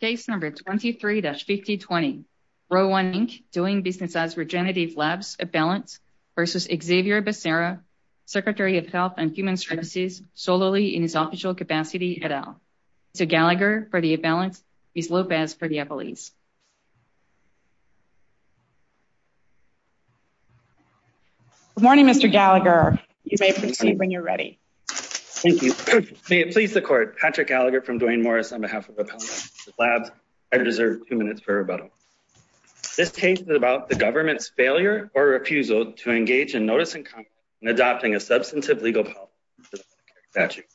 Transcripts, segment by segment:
Case number 23-5020. Row 1 Inc. doing business as Regenerative Labs Appellants versus Xavier Becerra, Secretary of Health and Human Services, solely in his official capacity at all. Mr. Gallagher for the Appellants, Ms. Lopez for the Appellees. Good morning, Mr. Gallagher. You may proceed when you're ready. Thank you. May it please the court, Patrick Gallagher from Duane Morris on behalf of Appellants and Regenerative Labs. I deserve two minutes for rebuttal. This case is about the government's failure or refusal to engage in notice and comment in adopting a substantive legal policy for the Medicare statute.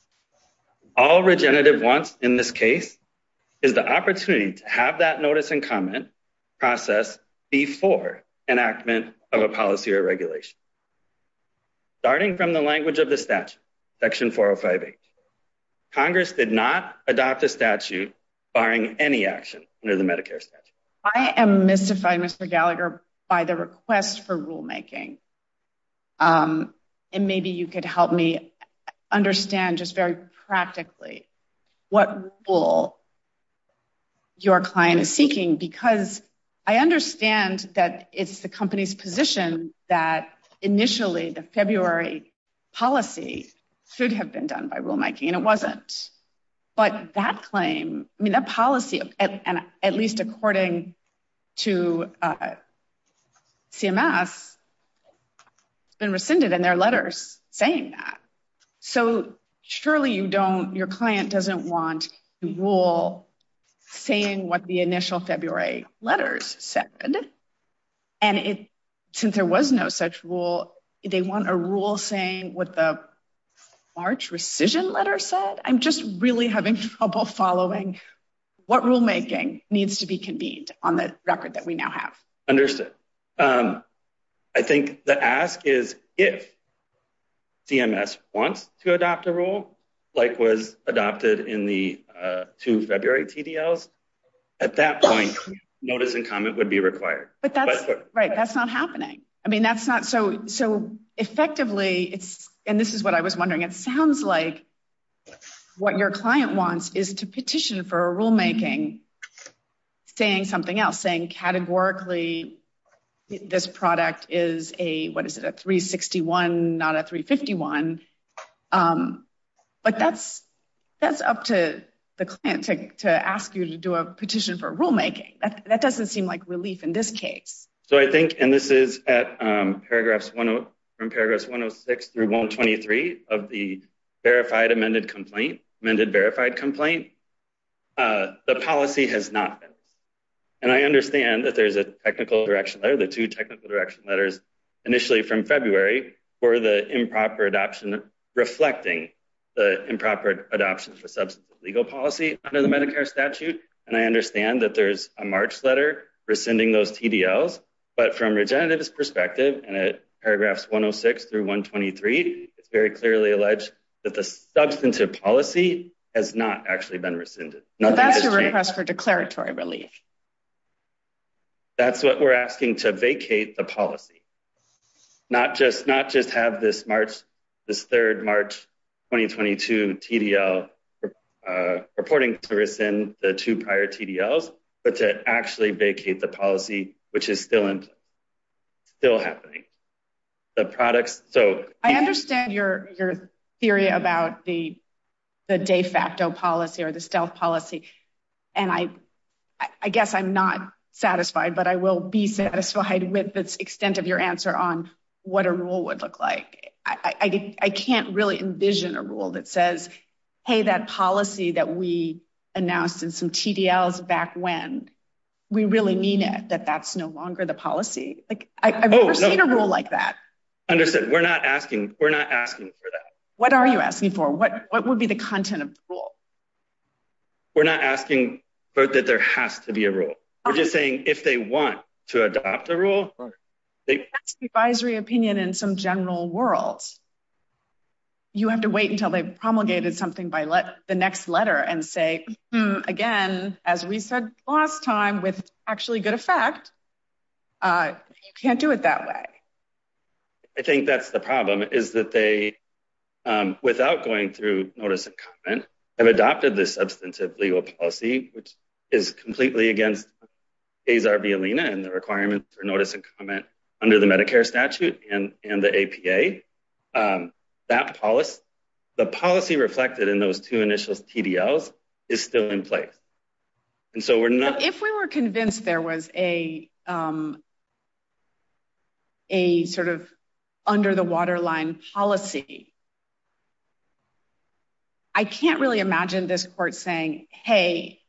All Regenerative wants in this case is the opportunity to have that notice and comment process before enactment of a policy or regulation. Starting from the language of the statute, section 405H, Congress did not adopt a statute barring any action under the Medicare statute. I am mystified, Mr. Gallagher, by the request for rulemaking. And maybe you could help me understand just very practically what rule your client is seeking because I understand that it's the company's position that initially the February policy should have been done by rulemaking and it wasn't. But that claim, I mean, that policy, at least according to CMS, has been rescinded in their letters saying that. So surely you don't, your client doesn't want a rule saying what the initial February letters said. And since there was no such rule, they want a rule saying what the March rescission letter said, I'm just really having trouble following what rulemaking needs to be convened on the record that we now have. Understood. I think the ask is if CMS wants to adopt a rule like was adopted in the two February TDLs, at that point, notice and comment would be required. But that's, right, that's not happening. I mean, that's not, so effectively it's, and this is what I was wondering, it sounds like what your client wants is to petition for a rulemaking saying something else, saying categorically this product is a, what is it? A 361, not a 351. But that's up to the client to ask you to do a petition for rulemaking. That doesn't seem like relief in this case. So I think, and this is at paragraphs, from paragraphs 106 through 123 of the verified amended complaint, amended verified complaint, the policy has not been. And I understand that there's a technical direction letter, the two technical direction letters initially from February for the improper adoption, reflecting the improper adoption for substantive legal policy under the Medicare statute. And I understand that there's a March letter rescinding those TDLs, but from Regenerative's perspective, and at paragraphs 106 through 123, it's very clearly alleged that the substantive policy has not actually been rescinded. Nothing has changed. That's a request for declaratory relief. That's what we're asking, to vacate the policy. Not just have this March, this 3rd, March 2022 TDL purporting to rescind the two prior TDLs, but to actually vacate the policy, which is still happening. The products, so- I understand your theory about the de facto policy or the stealth policy. And I guess I'm not satisfied, but I will be satisfied with the extent of your answer on what a rule would look like. I can't really envision a rule that says, hey, that policy that we announced in some TDLs back when, we really mean it, that that's no longer the policy. Like, I've never seen a rule like that. Understood. We're not asking for that. What are you asking for? What would be the content of the rule? We're not asking that there has to be a rule. We're just saying, if they want to adopt a rule, they- That's the advisory opinion in some general worlds. You have to wait until they've promulgated something by the next letter and say, again, as we said last time, with actually good effect, you can't do it that way. I think that's the problem, is that they, without going through notice and comment, have adopted this substantive legal policy, which is completely against Azar violina and the requirements for notice and comment under the Medicare statute and the APA. That policy, the policy reflected in those two initials TDLs is still in place. And so we're not- If we were convinced there was a, a sort of under the waterline policy, I can't really imagine this court saying, hey,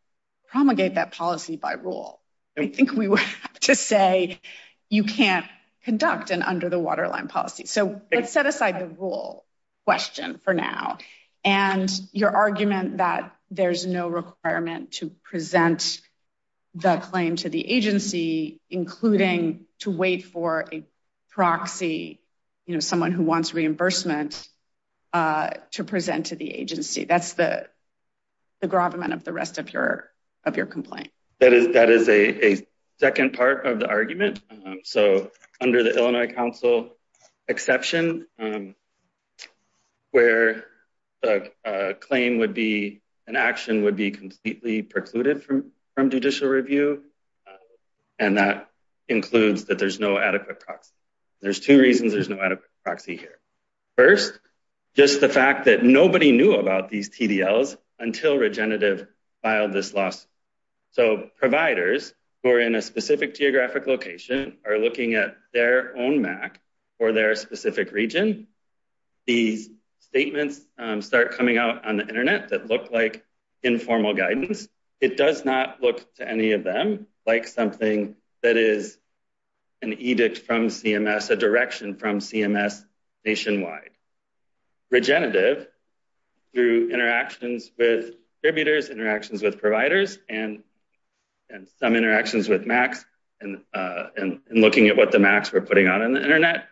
promulgate that policy by rule. I think we would have to say, you can't conduct an under the waterline policy. So let's set aside the rule question for now. And your argument that there's no requirement to present the claim to the agency, including to wait for a proxy, someone who wants reimbursement to present to the agency. That's the gravamen of the rest of your complaint. That is a second part of the argument. So under the Illinois Council exception, where a claim would be, an action would be completely precluded from judicial review. And that includes that there's no adequate proxy. There's two reasons there's no adequate proxy here. First, just the fact that nobody knew about these TDLs until Regenerative filed this lawsuit. So providers who are in a specific geographic location are looking at their own MAC or their specific region. These statements start coming out on the internet that look like informal guidance. It does not look to any of them like something that is an edict from CMS, a direction from CMS nationwide. Regenerative through interactions with contributors, interactions with providers, and some interactions with MACs and looking at what the MACs were putting on in the internet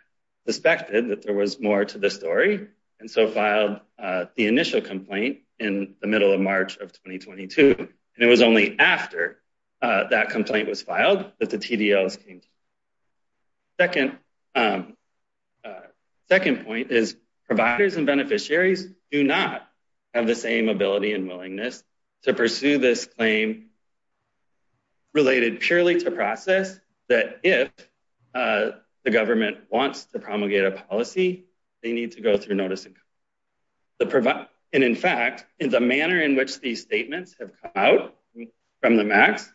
suspected that there was more to the story. And so filed the initial complaint in the middle of March of 2022. And it was only after that complaint was filed that the TDLs came to the court. Second point is providers and beneficiaries do not have the same ability and willingness to pursue this claim related purely to process that if the government wants to promulgate a policy, they need to go through notice. And in fact, in the manner in which these statements have come out from the MACs,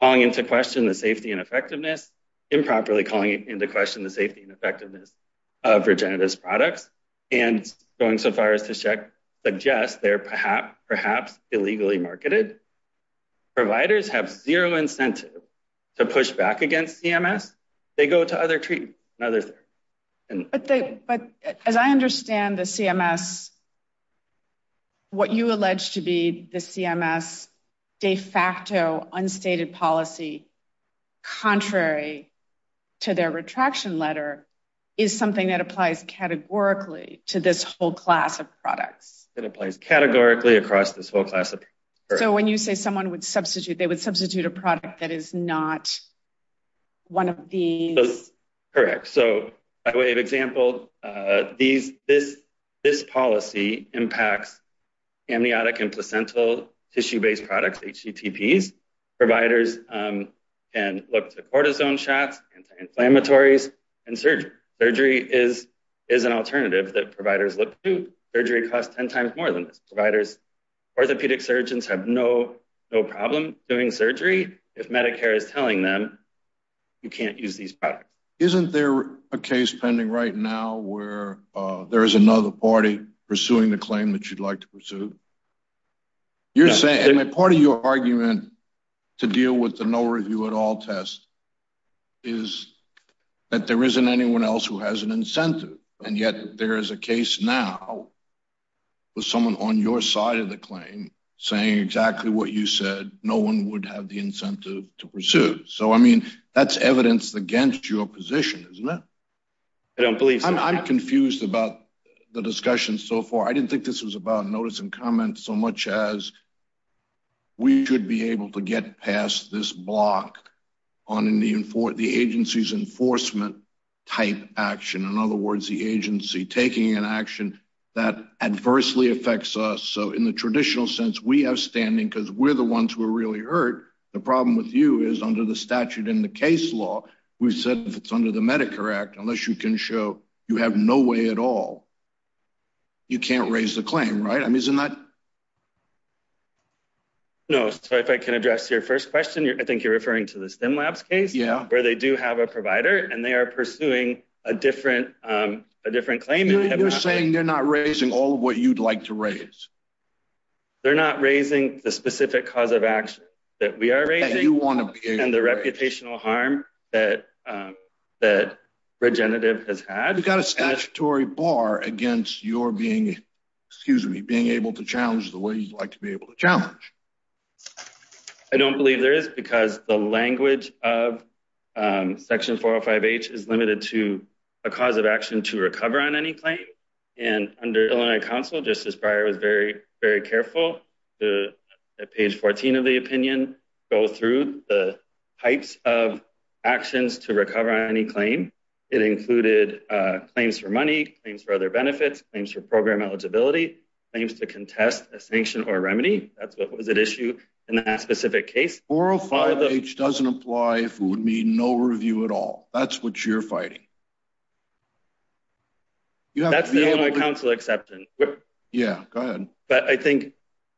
calling into question the safety and effectiveness, improperly calling into question the safety and effectiveness of Regenerative's products and going so far as to suggest they're perhaps illegally marketed. Providers have zero incentive to push back against CMS. They go to other treatments and others. But as I understand the CMS, what you allege to be the CMS de facto unstated policy contrary to their retraction letter is something that applies categorically to this whole class of products. It applies categorically across this whole class of products. So when you say someone would substitute, they would substitute a product that is not one of these. Correct. So by way of example, this policy impacts amniotic and placental tissue-based products, HTTPs. Providers can look to cortisone shots, anti-inflammatories, and surgery. Surgery is an alternative that providers look to. Surgery costs 10 times more than this. Providers, orthopedic surgeons have no problem doing surgery if Medicare is telling them you can't use these products. Isn't there a case pending right now where there is another party pursuing the claim that you'd like to pursue? You're saying that part of your argument to deal with the no review at all test is that there isn't anyone else who has an incentive. And yet there is a case now with someone on your side of the claim saying exactly what you said, no one would have the incentive to pursue. So I mean, that's evidence against your position, isn't it? I don't believe so. I'm confused about the discussion so far. I didn't think this was about notice and comment so much as we should be able to get past this block on the agency's enforcement type action. In other words, the agency taking an action that adversely affects us. So in the traditional sense, we have standing because we're the ones who are really hurt. The problem with you is under the statute in the case law, we've said if it's under the Medicare Act, unless you can show you have no way at all, you can't raise the claim, right? I mean, isn't that? No, so if I can address your first question, I think you're referring to the STEM labs case where they do have a provider and they are pursuing a different claim. You're saying they're not raising all of what you'd like to raise. They're not raising the specific cause of action that we are raising and the reputational harm that Regenerative has had. You've got a statutory bar against your being, excuse me, being able to challenge the way you'd like to be able to challenge. I don't believe there is because the language of section 405H is limited to a cause of action to recover on any claim. And under Illinois Council, just as prior, was very, very careful to page 14 of the opinion, go through the types of actions to recover on any claim. It included claims for money, claims for other benefits, claims for program eligibility, claims to contest a sanction or remedy. That's what was at issue in that specific case. 405H doesn't apply if it would mean no review at all. That's what you're fighting. That's the Illinois Council exception. Yeah, go ahead. But I think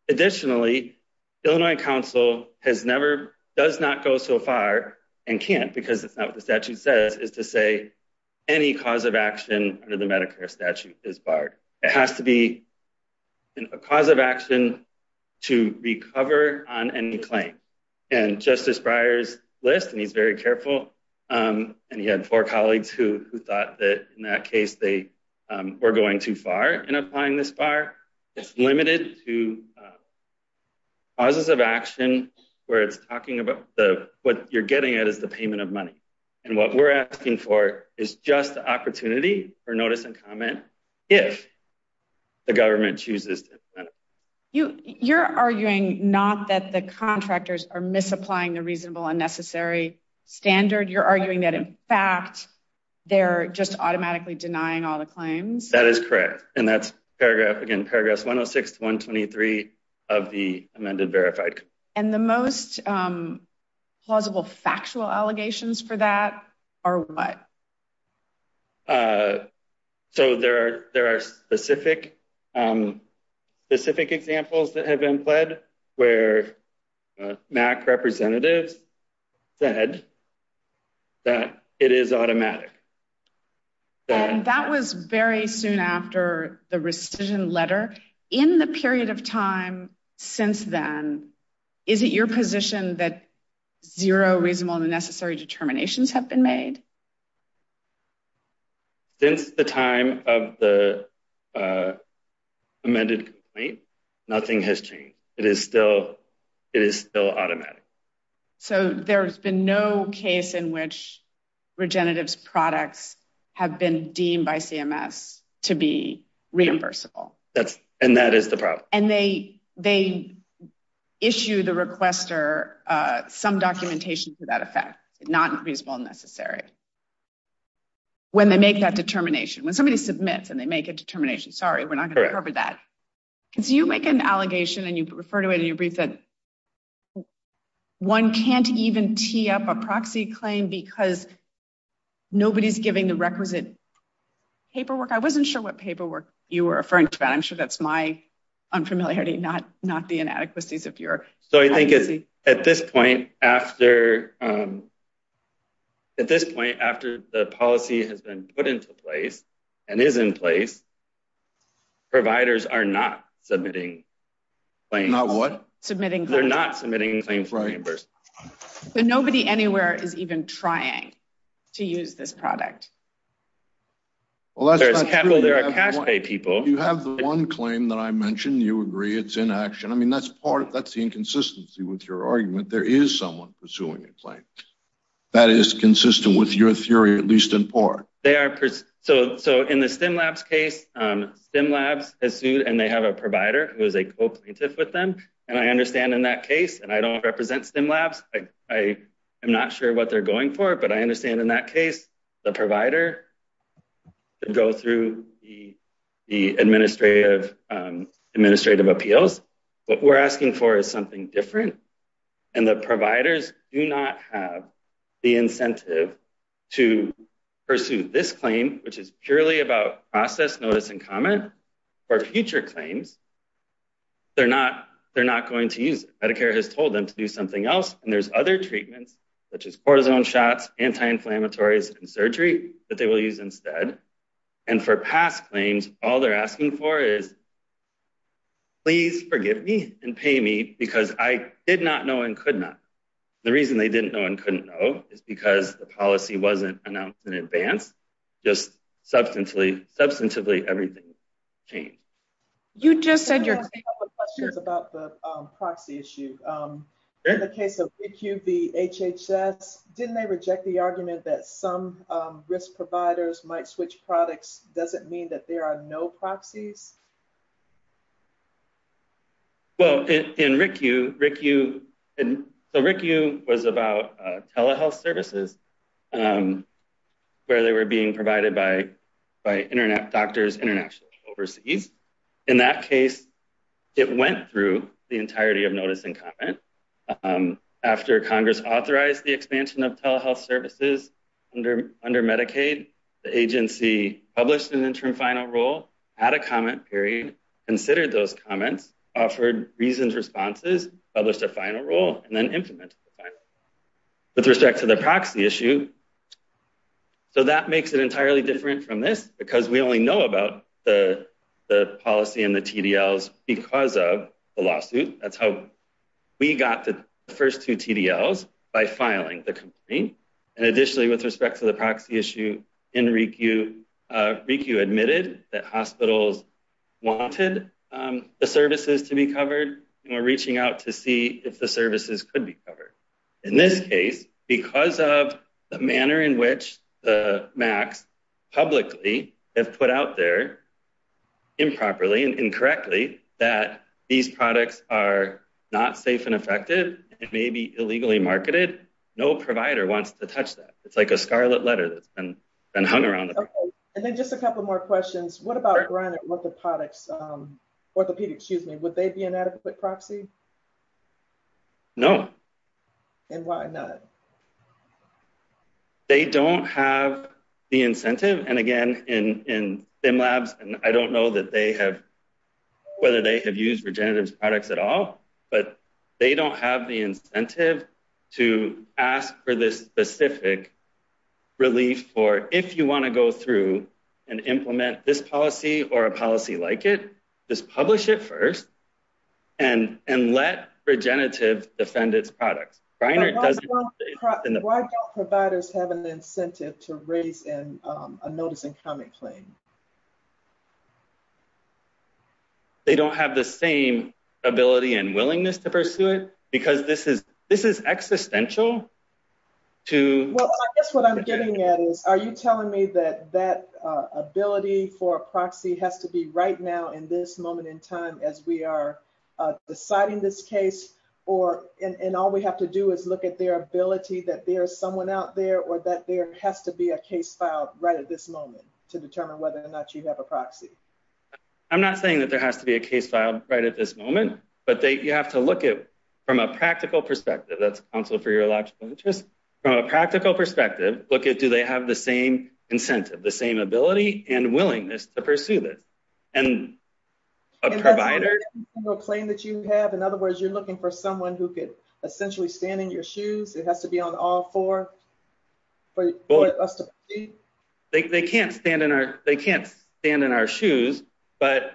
additionally, Illinois Council has never, does not go so far and can't because it's not what the statute says, is to say any cause of action under the Medicare statute is barred. It has to be a cause of action to recover on any claim. And Justice Breyer's list, and he's very careful, and he had four colleagues who thought that in that case, they were going too far in applying this bar. It's limited to causes of action where it's talking about the, what you're getting at is the payment of money. And what we're asking for is just the opportunity for notice and comment, if the government chooses to implement it. You're arguing not that the contractors are misapplying the reasonable unnecessary standard. You're arguing that in fact, they're just automatically denying all the claims. That is correct. And that's paragraph, again, paragraphs 106 to 123 of the amended verified. And the most plausible factual allegations for that are what? So there are specific examples that have been pled where MAC representatives said that it is automatic. And that was very soon after the rescission letter. In the period of time since then, is it your position that zero reasonable unnecessary determinations have been made? Since the time of the amended, nothing has changed. It is still automatic. So there's been no case in which Regenerative's products have been deemed by CMS to be reimbursable. And that is the problem. And they issue the requester some documentation for that effect, not reasonable unnecessary. When they make that determination, when somebody submits and they make a determination, sorry, we're not gonna cover that. So you make an allegation and you refer to it in your brief that one can't even tee up a proxy claim because nobody's giving the requisite paperwork. I wasn't sure what paperwork you were referring to that. I'm sure that's my unfamiliarity, not the inadequacies of your. So I think at this point after, at this point, after the policy has been put into place and is in place, providers are not submitting claims. Not what? Submitting claims. They're not submitting claims for reimbursement. But nobody anywhere is even trying to use this product. Well, that's not true. There's cash pay people. You have the one claim that I mentioned, you agree it's inaction. I mean, that's part of, that's the inconsistency with your argument. There is someone pursuing a claim. That is consistent with your theory, at least in part. They are. So in the Stimlabs case, Stimlabs has sued and they have a provider who is a co-plaintiff with them. And I understand in that case, and I don't represent Stimlabs, I am not sure what they're going for, but I understand in that case, the provider could go through the administrative appeals. What we're asking for is something different. And the providers do not have the incentive to pursue this claim, which is purely about process, notice and comment. For future claims, they're not going to use it. Medicare has told them to do something else. And there's other treatments such as cortisone shots, anti-inflammatories and surgery that they will use instead. And for past claims, all they're asking for is, please forgive me and pay me because I did not know and could not. The reason they didn't know and couldn't know is because the policy wasn't announced in advance, just substantively everything changed. You just said your- I have a couple of questions about the proxy issue. In the case of RICU v. HHS, didn't they reject the argument that some risk providers might switch products? Does it mean that there are no proxies? Well, in RICU, RICU was about telehealth services where they were being provided by internet doctors internationally and overseas. In that case, it went through the entirety of notice and comment. After Congress authorized the expansion of telehealth services under Medicaid, the agency published an interim final rule at a comment period, considered those comments, offered reasons responses, published a final rule, and then implemented the final rule. With respect to the proxy issue, so that makes it entirely different from this because we only know about the policy and the TDLs because of the lawsuit. That's how we got the first two TDLs, by filing the complaint. And additionally, with respect to the proxy issue in RICU, RICU admitted that hospitals wanted the services to be covered, and we're reaching out to see if the services could be covered. In this case, because of the manner in which the MACs publicly have put out there, improperly and incorrectly, that these products are not safe and effective, it may be illegally marketed, no provider wants to touch that. It's like a scarlet letter that's been hung around the- And then just a couple more questions. What about Granite, what the products, orthopedics, excuse me, would they be an adequate proxy? No. And why not? They don't have the incentive. And again, in STEM labs, and I don't know that they have, but they don't have the incentive to ask for this specific relief for if you wanna go through and implement this policy or a policy like it, just publish it first, and let Regenerative defend its products. Granite doesn't- Why don't providers have an incentive to raise a notice and comment claim? They don't have the same ability and willingness to pursue it, because this is existential to- Well, I guess what I'm getting at is, are you telling me that that ability for a proxy has to be right now in this moment in time as we are deciding this case, or, and all we have to do is look at their ability, that there is someone out there, or that there has to be a case filed right at this moment to determine whether or not you have a proxy? I'm not saying that there has to be a case filed right at this moment, but you have to look at, from a practical perspective, that's counsel for your logical interest, from a practical perspective, look at, do they have the same incentive, the same ability and willingness to pursue this? And a provider- Is that a claim that you have? In other words, you're looking for someone who could essentially stand in your shoes, it has to be on all four for us to proceed? They can't stand in our shoes, but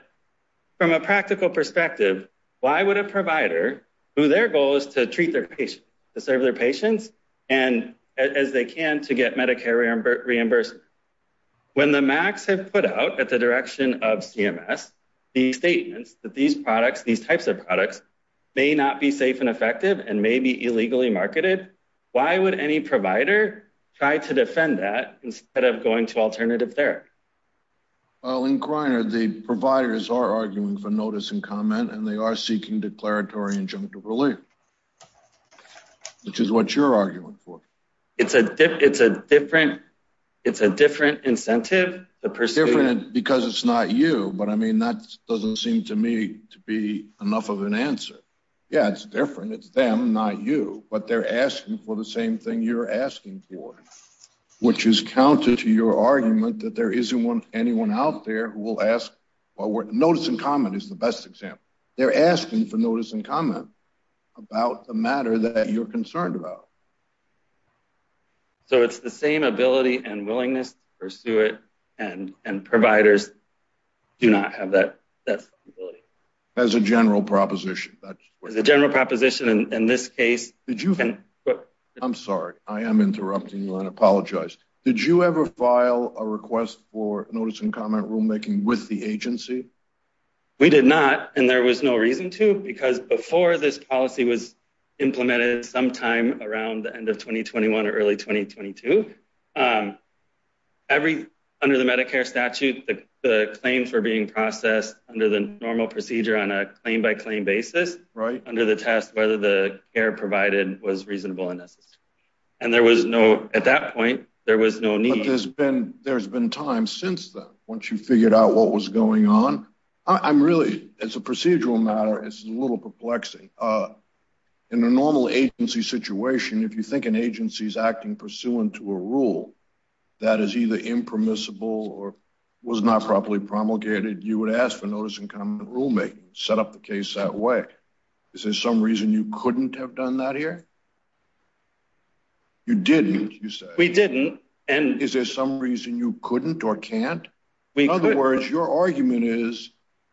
from a practical perspective, why would a provider, who their goal is to treat their patients, to serve their patients, and as they can to get Medicare reimbursed, when the MACs have put out at the direction of CMS, the statements that these products, these types of products may not be safe and effective and may be illegally marketed, why would any provider try to defend that instead of going to alternative therapy? Well, in Kriner, the providers are arguing for notice and comment, and they are seeking declaratory injunctive relief, which is what you're arguing for. It's a different incentive to pursue- Different because it's not you, but I mean, that doesn't seem to me to be enough of an answer. Yeah, it's different, it's them, not you, but they're asking for the same thing you're asking for, which is counter to your argument that there isn't anyone out there who will ask, well, notice and comment is the best example. They're asking for notice and comment about the matter that you're concerned about. So it's the same ability and willingness to pursue it, and providers do not have that ability. As a general proposition, that's- As a general proposition in this case- Did you- I'm sorry, I am interrupting you and I apologize. Did you ever file a request for notice and comment rulemaking with the agency? We did not, and there was no reason to, because before this policy was implemented sometime around the end of 2021 or early 2022, under the Medicare statute, the claims were being processed under the normal procedure on a claim-by-claim basis, under the test whether the care provided was reasonable and necessary. And there was no- At that point, there was no need- But there's been time since then, once you figured out what was going on. I'm really- As a procedural matter, it's a little perplexing. In a normal agency situation, if you think an agency's acting pursuant to a rule that is either impermissible or was not properly promulgated, you would ask for notice and comment rulemaking, set up the case that way. Is there some reason you couldn't have done that here? You didn't, you said. We didn't, and- Is there some reason you couldn't or can't? We couldn't. In other words, your argument is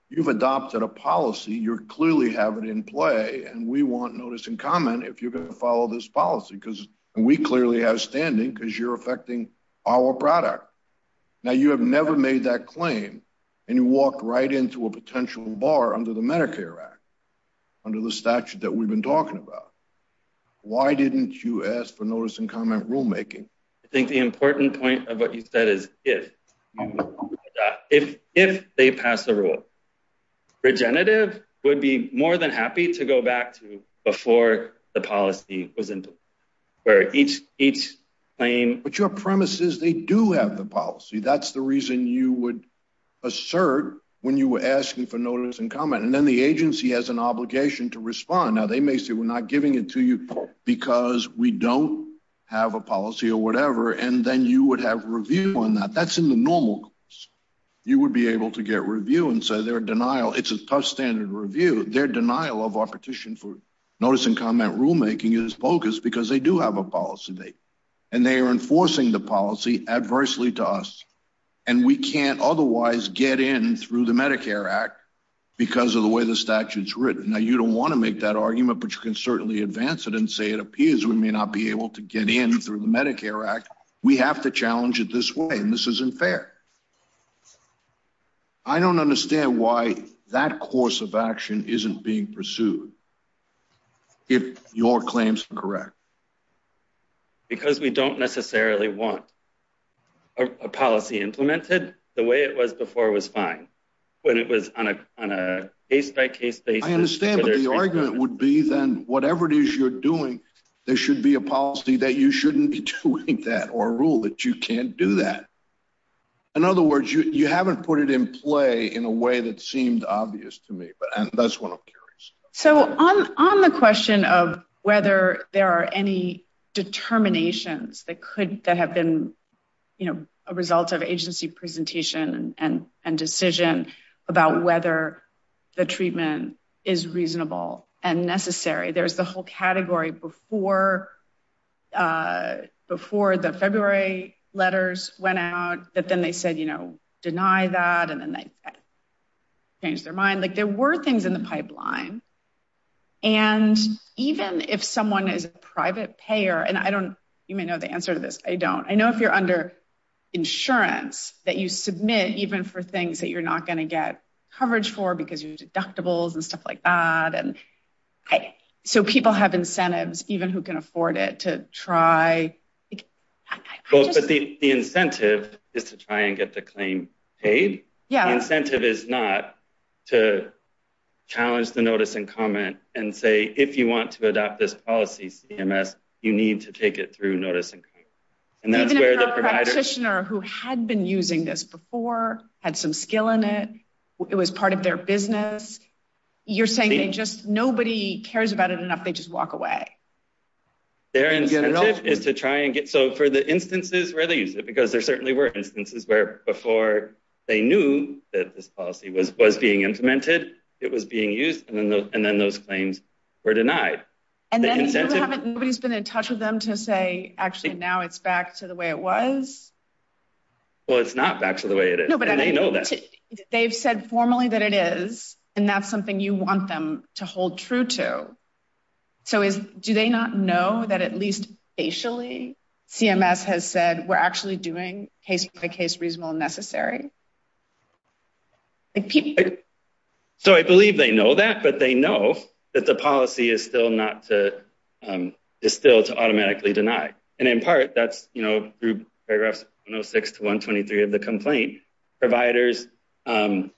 you've adopted a policy, you clearly have it in play, and we want notice and comment if you're going to follow this policy, because we clearly have standing because you're affecting our product. Now, you have never made that claim, and you walked right into a potential bar under the Medicare Act, under the statute that we've been talking about. Why didn't you ask for notice and comment rulemaking? I think the important point of what you said is if. If they pass a rule, Regenerative would be more than happy to go back to before the policy was implemented, where each claim- But your premise is they do have the policy. That's the reason you would assert when you were asking for notice and comment, and then the agency has an obligation to respond. Now, they may say, we're not giving it to you because we don't have a policy or whatever, and then you would have review on that. That's in the normal case. You would be able to get review and say their denial. It's a tough standard review. Their denial of our petition for notice and comment rulemaking is bogus because they do have a policy. And they are enforcing the policy adversely to us. And we can't otherwise get in through the Medicare Act because of the way the statute's written. Now, you don't want to make that argument, but you can certainly advance it and say, it appears we may not be able to get in through the Medicare Act. We have to challenge it this way, and this isn't fair. I don't understand why that course of action isn't being pursued if your claims are correct. Because we don't necessarily want a policy implemented the way it was before it was fine, when it was on a case-by-case basis. I understand, but the argument would be then, whatever it is you're doing, there should be a policy that you shouldn't be doing that or a rule that you can't do that. In other words, you haven't put it in play in a way that seemed obvious to me. But that's what I'm curious. So on the question of whether there are any determinations that have been a result of agency presentation and decision about whether the treatment is reasonable and necessary, there's the whole category before the February letters went out that then they said, you know, deny that. And then they changed their mind. Like there were things in the pipeline. And even if someone is a private payer, and I don't, you may know the answer to this, I don't. I know if you're under insurance that you submit even for things that you're not gonna get coverage for because you deductibles and stuff like that. And so people have incentives, even who can afford it to try. The incentive is to try and get the claim paid. Yeah. Incentive is not to challenge the notice and comment and say, if you want to adopt this policy CMS, you need to take it through notice and comment. And that's where the provider- Had some skill in it. It was part of their business. You're saying they just, nobody cares about it enough. They just walk away. Their incentive is to try and get, so for the instances where they use it, because there certainly were instances where before they knew that this policy was being implemented, it was being used, and then those claims were denied. And then nobody's been in touch with them to say, actually now it's back to the way it was. Well, it's not back to the way it is. They've said formally that it is, and that's something you want them to hold true to. So do they not know that at least facially, CMS has said we're actually doing case by case reasonable and necessary? So I believe they know that, but they know that the policy is still not to, And in part, that's, you know, paragraphs 106 to 123 of the complaint, providers tend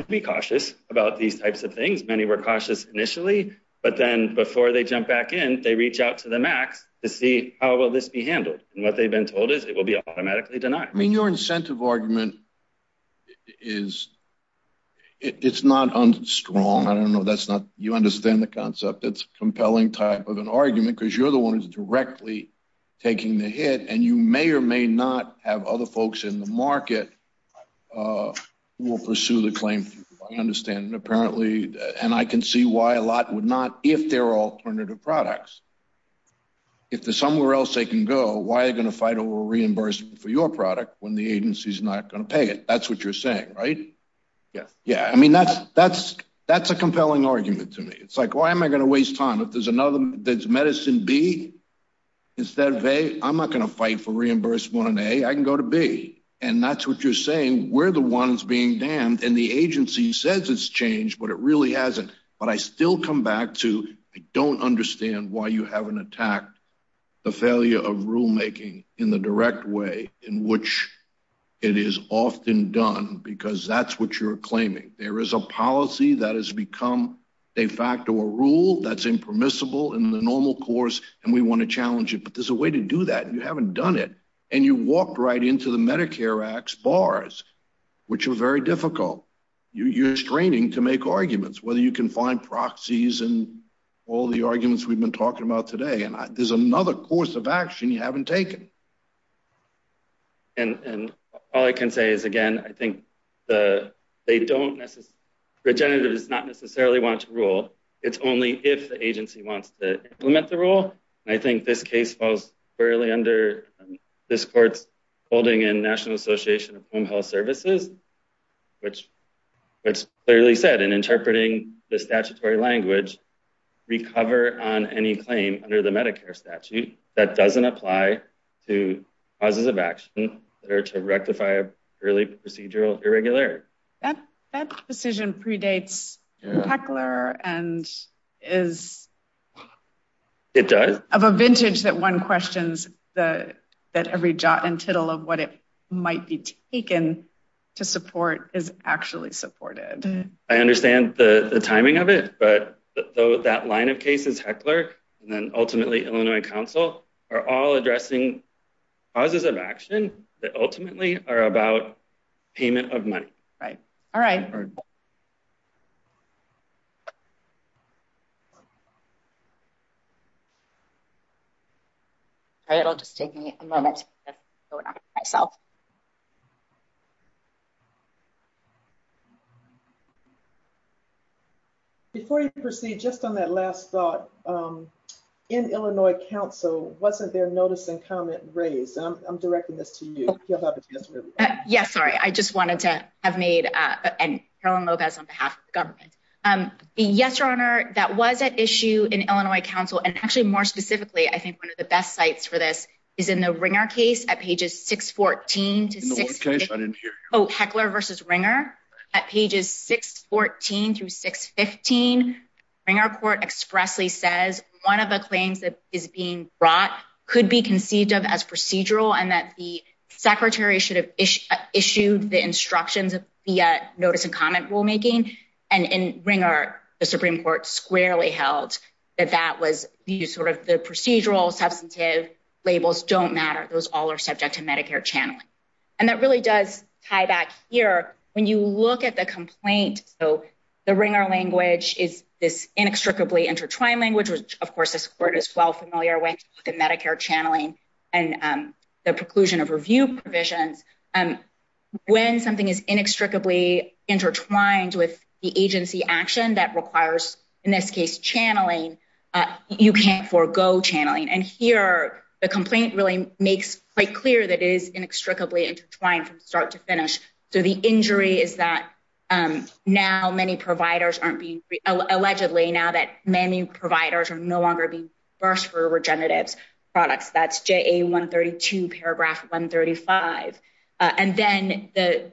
to be cautious about these types of things. Many were cautious initially, but then before they jump back in, they reach out to the MACs to see how will this be handled? And what they've been told is it will be automatically denied. I mean, your incentive argument is, it's not unstrong. I don't know. That's not, you understand the concept. It's a compelling type of an argument because you're the one who's directly taking the hit and you may or may not have other folks in the market who will pursue the claim, I understand. And apparently, and I can see why a lot would not if there are alternative products. If there's somewhere else they can go, why are you gonna fight over reimbursement for your product when the agency's not gonna pay it? That's what you're saying, right? Yes. Yeah, I mean, that's a compelling argument to me. It's like, why am I gonna waste time? If there's medicine B instead of A, I'm not gonna fight for reimbursement on A, I can go to B. And that's what you're saying. We're the ones being damned and the agency says it's changed, but it really hasn't. But I still come back to, I don't understand why you haven't attacked the failure of rulemaking in the direct way in which it is often done because that's what you're claiming. There is a policy that has become de facto a rule that's impermissible in the normal course and we wanna challenge it, but there's a way to do that and you haven't done it. And you walked right into the Medicare Act's bars, which are very difficult. You're straining to make arguments, whether you can find proxies and all the arguments we've been talking about today. And there's another course of action you haven't taken. And all I can say is, again, I think they don't necessarily, Regenerative does not necessarily want to rule. It's only if the agency wants to implement the rule. And I think this case falls fairly under this court's holding in National Association of Home Health Services, which clearly said in interpreting the statutory language, recover on any claim under the Medicare statute that doesn't apply to causes of action that are to rectify early procedural irregularity. That decision predates Heckler and is- It does. Of a vintage that one questions that every jot and tittle of what it might be taken to support is actually supported. I understand the timing of it, but that line of cases, Heckler, and then ultimately Illinois Council are all addressing causes of action that ultimately are about payment of money. All right. It'll just take me a moment. Before you proceed, just on that last thought in Illinois Council, wasn't there notice and comment raised? I'm directing this to you. Yes, sorry. I just wanted to have made, and Carolyn Lopez on behalf of the government. Yes, Your Honor, that was at issue in Illinois Council. And actually more specifically, I think one of the best sites for this is in the Ringer case at pages 614 to 6- In the one case, I didn't hear you. Oh, Heckler versus Ringer. At pages 614 through 615, Ringer court expressly says one of the claims that is being brought could be conceived of as procedural and that the secretary should have issued the instructions of the notice and comment rulemaking. And in Ringer, the Supreme Court squarely held that that was the sort of the procedural substantive labels don't matter. Those all are subject to Medicare channeling. And that really does tie back here. When you look at the complaint, so the Ringer language is this inextricably intertwined language, which of course this court is well familiar with the Medicare channeling and the preclusion of review provisions. When something is inextricably intertwined with the agency action that requires, in this case, channeling, you can't forego channeling. And here, the complaint really makes quite clear that it is inextricably intertwined from start to finish. So the injury is that now many providers aren't being, allegedly now that many providers are no longer being versed for regeneratives products. That's JA 132, paragraph 135. And then the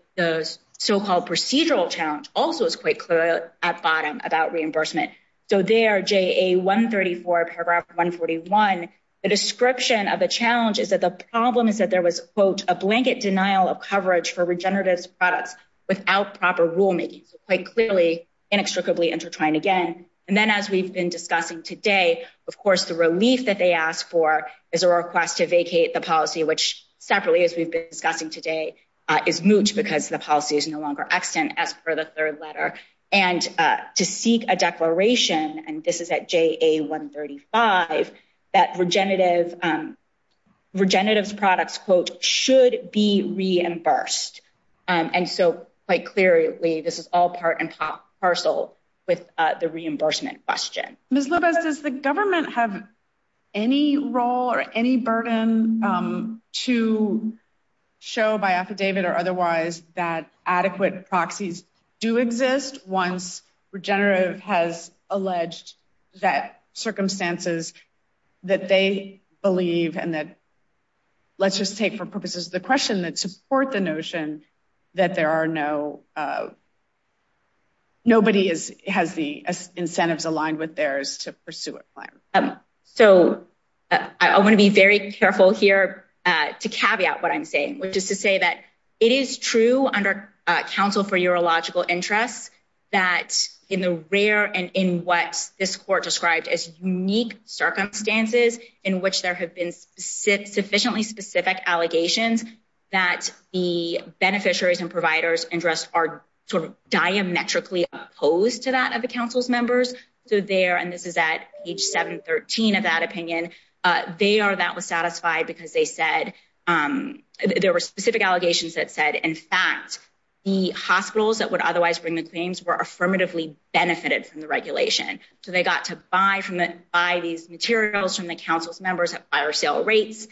so-called procedural challenge also is quite clear at bottom about reimbursement. So there, JA 134, paragraph 141, the description of the challenge is that the problem is that there was, quote, a blanket denial of coverage for regeneratives products without proper rulemaking. So quite clearly, inextricably intertwined again. And then as we've been discussing today, of course, the relief that they asked for is a request to vacate the policy, which separately, as we've been discussing today, is moot because the policy is no longer extant as per the third letter. And to seek a declaration, and this is at JA 135, that regeneratives products, quote, should be reimbursed. And so quite clearly, this is all part and parcel with the reimbursement question. Ms. Lopez, does the government have any role or any burden to show by affidavit or otherwise that adequate proxies do exist once regenerative has alleged that circumstances that they believe and that, let's just take for purposes of the question, that support the notion that there are no, nobody has the incentives aligned with theirs to pursue a claim? So I wanna be very careful here to caveat what I'm saying, which is to say that it is true under counsel for urological interests that in the rare and in what this court described as unique circumstances in which there have been sufficiently specific allegations that the beneficiaries and providers interest are sort of diametrically opposed to that of the council's members. So there, and this is at page 713 of that opinion, they are that was satisfied because they said, there were specific allegations that said, in fact, the hospitals that would otherwise bring the claims were affirmatively benefited from the regulation. So they got to buy these materials from the council's members at buyer sale rates,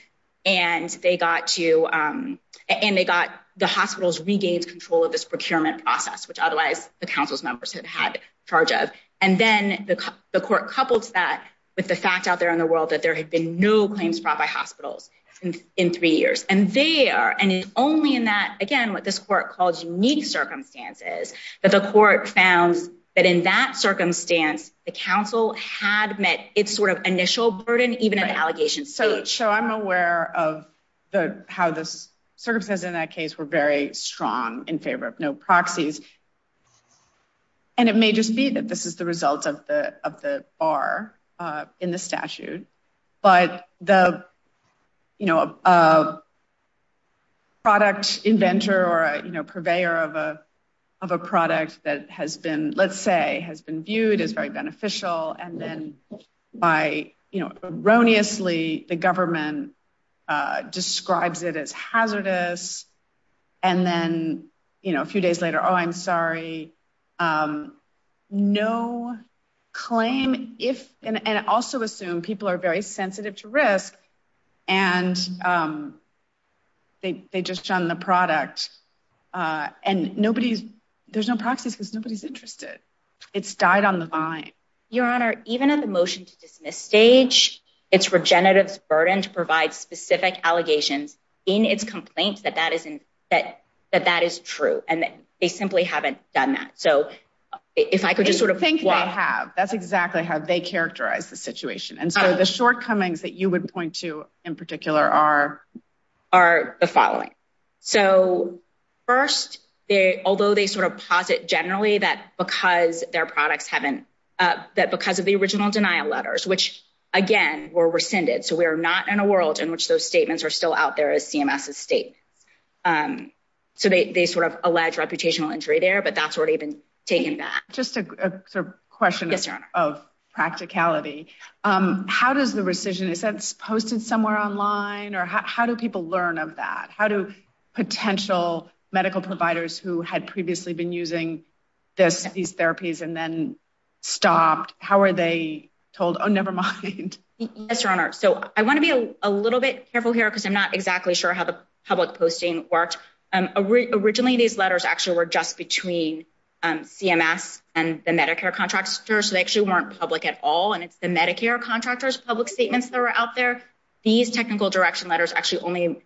and they got to, and they got, the hospitals regained control of this procurement process, which otherwise the council's members had had charge of. And then the court coupled to that with the fact out there in the world that there had been no claims brought by hospitals in three years. And they are, and it's only in that, again, what this court calls unique circumstances, that the court found that in that circumstance, the council had met its sort of initial burden, even an allegation. So I'm aware of how the circumstances in that case were very strong in favor of no proxies. And it may just be that this is the result of the bar in the statute, but the product inventor or purveyor of a product that has been, let's say, has been viewed as very beneficial and then by, erroneously, the government describes it as hazardous. And then a few days later, oh, I'm sorry. No claim if, and also assume people are very sensitive to risk and they just shun the product. And nobody's, there's no proxies because nobody's interested. It's died on the vine. Your Honor, even at the motion to dismiss stage, it's regenerative's burden to provide specific allegations in its complaints that that is true. And they simply haven't done that. So if I could just sort of- I think they have. That's exactly how they characterize the situation. And so the shortcomings that you would point to in particular are- Are the following. So first, although they sort of posit generally that because their products haven't, that because of the original denial letters, which again were rescinded. So we are not in a world in which those statements are still out there as CMS's statements. So they sort of allege reputational injury there, but that's already been taken back. Just a question of practicality. How does the rescission, is that posted somewhere online or how do people learn of that? How do potential medical providers who had previously been using these therapies and then stopped, how are they told? Oh, nevermind. Yes, Your Honor. So I want to be a little bit careful here because I'm not exactly sure how the public posting worked. Originally these letters actually were just between CMS and the Medicare contractors. So they actually weren't public at all. And it's the Medicare contractors, public statements that were out there. These technical direction letters actually only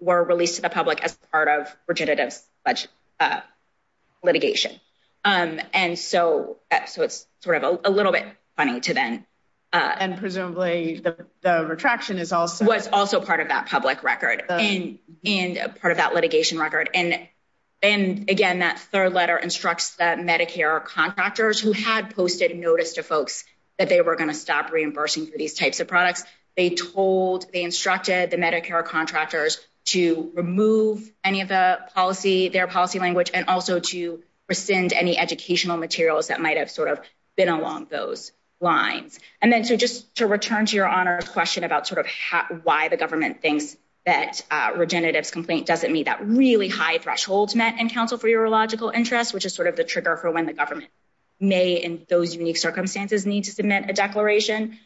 were released to the public as part of legitimates litigation. And so it's sort of a little bit funny to then- And presumably the retraction is also- Was also part of that public record and part of that litigation record. And again, that third letter instructs that Medicare contractors who had posted notice to folks that they were going to stop reimbursing for these types of products. They told, they instructed the Medicare contractors to remove any of the policy, their policy language, and also to rescind any educational materials that might've sort of been along those lines. And then, so just to return to Your Honor's question about sort of why the government thinks that a regenerative's complaint doesn't meet that really high thresholds met in counsel for urological interests, which is sort of the trigger for when the government may in those unique circumstances need to submit a declaration.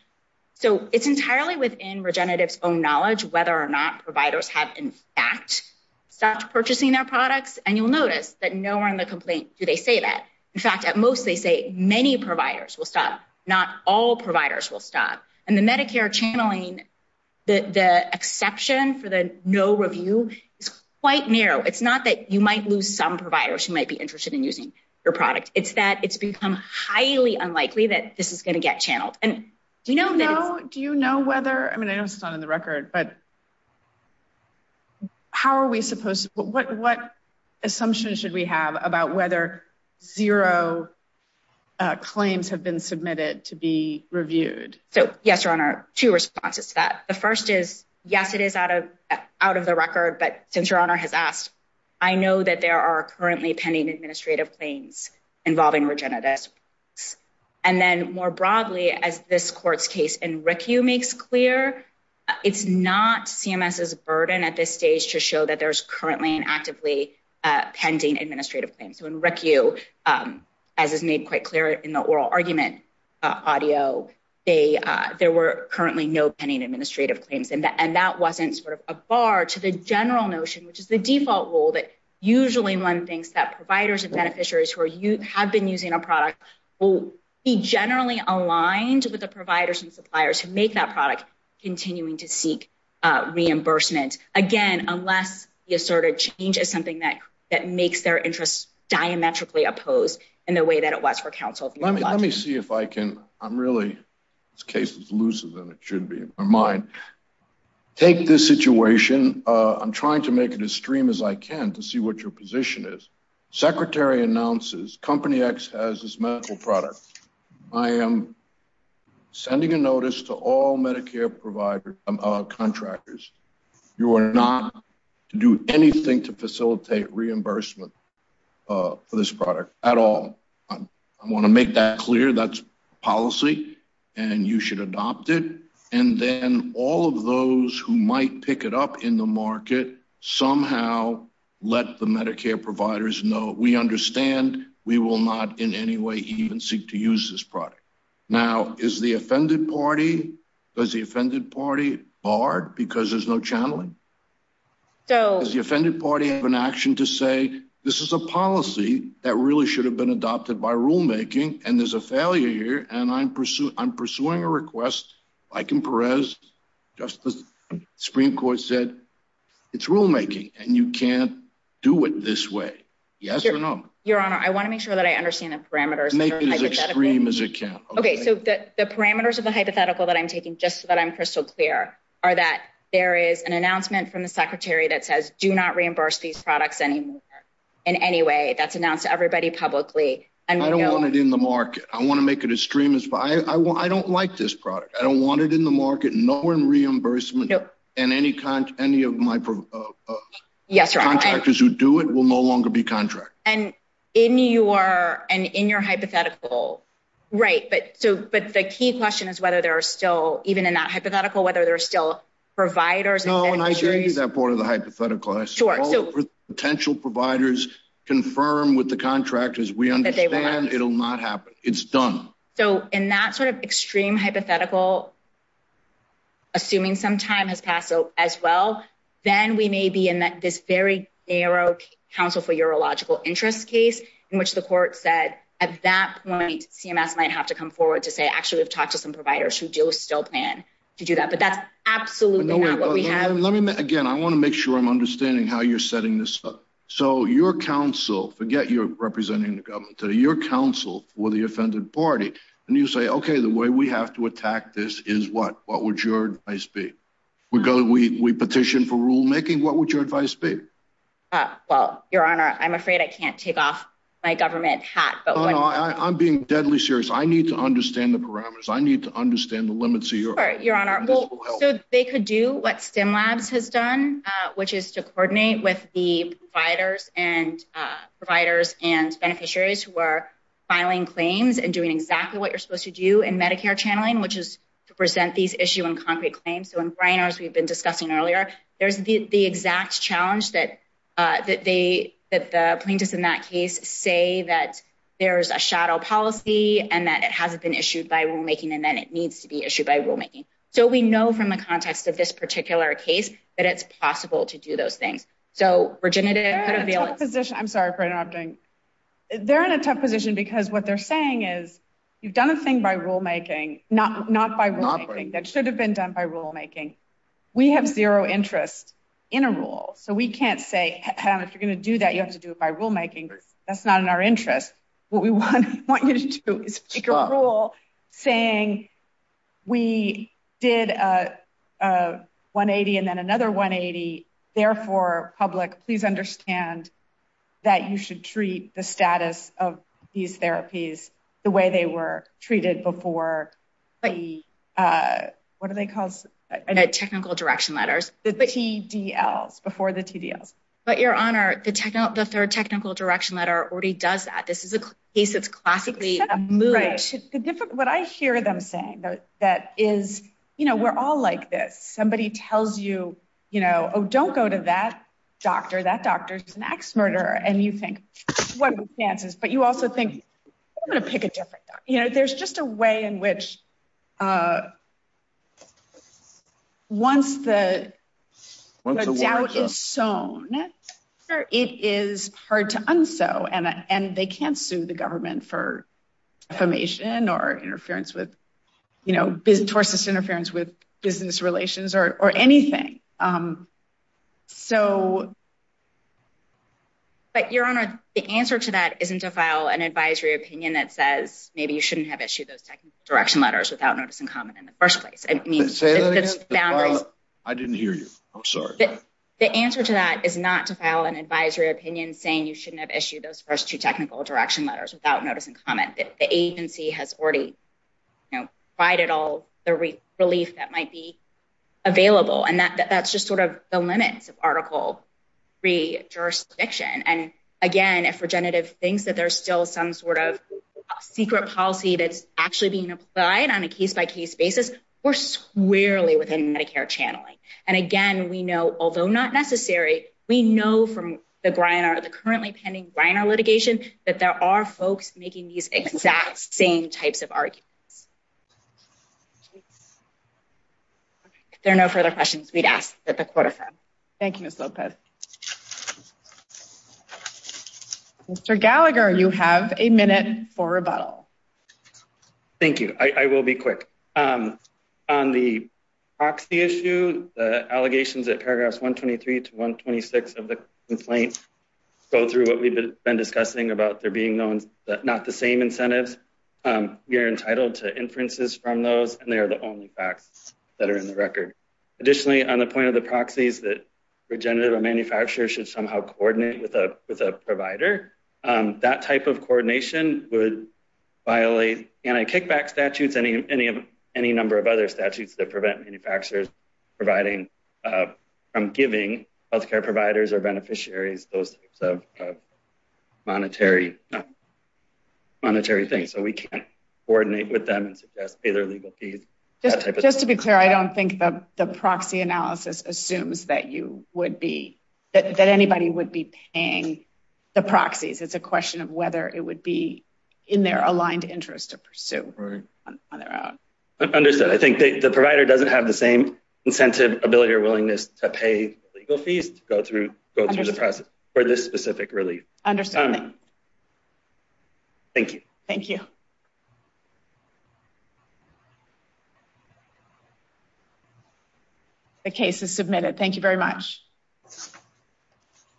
So it's entirely within regenerative's own knowledge whether or not providers have in fact stopped purchasing their products. And you'll notice that nowhere in the complaint do they say that. In fact, at most, they say many providers will stop. Not all providers will stop. And the Medicare channeling, the exception for the no review is quite narrow. It's not that you might lose some providers who might be interested in using your product. It's that it's become highly unlikely that this is going to get channeled. And do you know that it's- Do you know whether, I mean, I know it's not in the record, but how are we supposed to, what assumptions should we have about whether zero claims have been submitted to be reviewed? So, yes, Your Honor, two responses to that. The first is, yes, it is out of the record, but since Your Honor has asked, I know that there are currently pending administrative claims involving regenerative products. And then more broadly, as this court's case in RICU makes clear, it's not CMS's burden at this stage to show that there's currently an actively pending administrative claim. So in RICU, as is made quite clear in the oral argument audio, there were currently no pending administrative claims. And that wasn't sort of a bar to the general notion, which is the default rule that usually one thinks that providers and beneficiaries who have been using a product will be generally aligned with the providers and suppliers who make that product continuing to seek reimbursement. Again, unless you sort of change as something that makes their interests diametrically opposed in the way that it was for counsel. Let me see if I can, I'm really, this case is looser than it should be in my mind. Take this situation, I'm trying to make it as stream as I can to see what your position is. Secretary announces, Company X has this medical product. I am sending a notice to all Medicare providers, contractors, you are not to do anything to facilitate reimbursement for this product at all. I wanna make that clear, that's policy and you should adopt it. And then all of those who might pick it up in the market somehow let the Medicare providers know, we understand we will not in any way even seek to use this product. Now is the offended party, does the offended party barred because there's no channeling? Does the offended party have an action to say, this is a policy that really should have been adopted by rulemaking and there's a failure here and I'm pursuing a request like in Perez, just as Supreme Court said, it's rulemaking and you can't do it this way. Yes or no? Your Honor, I wanna make sure that I understand the parameters. Make it as extreme as it can. Okay, so the parameters of the hypothetical that I'm taking just so that I'm crystal clear are that there is an announcement from the secretary that says, do not reimburse these products anymore in any way that's announced to everybody publicly. I don't want it in the market. I wanna make it as extreme as, I don't like this product. I don't want it in the market nor in reimbursement and any of my contractors who do it will no longer be contracted. And in your hypothetical, right, but the key question is whether there are still, even in that hypothetical, whether there are still providers. No, and I agree with that part of the hypothetical. I suppose potential providers confirm with the contractors we understand it'll not happen. It's done. So in that sort of extreme hypothetical, assuming some time has passed as well, then we may be in this very narrow Council for Urological Interest case in which the court said at that point, CMS might have to come forward to say, actually, we've talked to some providers who do still plan to do that, but that's absolutely not what we have. Again, I wanna make sure I'm understanding how you're setting this up. So your council, forget you're representing the government today, your council for the offended party, and you say, okay, the way we have to attack this is what? What would your advice be? We petition for rulemaking. What would your advice be? Well, your honor, I'm afraid I can't take off my government hat, but- No, no, I'm being deadly serious. I need to understand the parameters. I need to understand the limits of your- Sorry, your honor, well, so they could do what Stimlabs has done, which is to coordinate with the providers and providers and beneficiaries who are filing claims and doing exactly what you're supposed to do in Medicare channeling, which is to present these issue in concrete claims. So in Briner's, we've been discussing earlier, there's the exact challenge that the plaintiffs in that case say that there's a shadow policy and that it hasn't been issued by rulemaking and then it needs to be issued by rulemaking. So we know from the context of this particular case that it's possible to do those things. So Virginia- They're in a tough position. I'm sorry for interrupting. They're in a tough position because what they're saying is you've done a thing by rulemaking, not by rulemaking that should have been done by rulemaking. We have zero interest in a rule. So we can't say, if you're gonna do that, you have to do it by rulemaking. That's not in our interest. What we want you to do is make a rule saying we did a 180 and then another 180, therefore public, please understand that you should treat the status of these therapies the way they were treated before the, what are they called? Technical direction letters, the TDLs, before the TDLs. But Your Honor, the third technical direction letter already does that. This is a case that's classically moved. What I hear them saying that is, we're all like this. Somebody tells you, oh, don't go to that doctor. That doctor's an ax murderer. And you think, what are the chances? But you also think, I'm gonna pick a different doctor. There's just a way in which once the doubt is sown, it is hard to un-sow. And they can't sue the government for affirmation or interference with, you know, towards this interference with business relations or anything. So. But Your Honor, the answer to that isn't to file an advisory opinion that says maybe you shouldn't have issued those technical direction letters without notice and comment in the first place. I mean, the boundaries. I didn't hear you, I'm sorry. The answer to that is not to file an advisory opinion saying you shouldn't have issued those first two technical direction letters without notice and comment. The agency has already provided all the relief that might be available. And that's just sort of the limits of Article III jurisdiction. And again, if Regenerative thinks that there's still some sort of secret policy that's actually being applied on a case-by-case basis, we're squarely within Medicare channeling. And again, we know, although not necessary, we know from the Griner, the currently pending Griner litigation, that there are folks making these exact same types of arguments. If there are no further questions, we'd ask that the Court affirm. Thank you, Ms. Lopez. Mr. Gallagher, you have a minute for rebuttal. Thank you. I will be quick. On the proxy issue, the allegations at paragraphs 123 to 126 of the complaint go through what we've been discussing about there being known that not the same incentives. We are entitled to inferences from those, and they are the only facts that are in the record. Additionally, on the point of the proxies that Regenerative or manufacturer should somehow coordinate with a provider, that type of coordination would violate anti-kickback statutes and any number of other statutes that prevent manufacturers from giving healthcare providers or beneficiaries those types of monetary things. So we can't coordinate with them and suggest pay their legal fees. Just to be clear, I don't think the proxy analysis assumes that anybody would be paying the proxies. It's a question of whether it would be in their aligned interest to pursue on their own. Understood. I think the provider doesn't have the same incentive, ability, or willingness to pay legal fees to go through the process for this specific relief. Understood. Thank you. Thank you. The case is submitted. Thank you very much.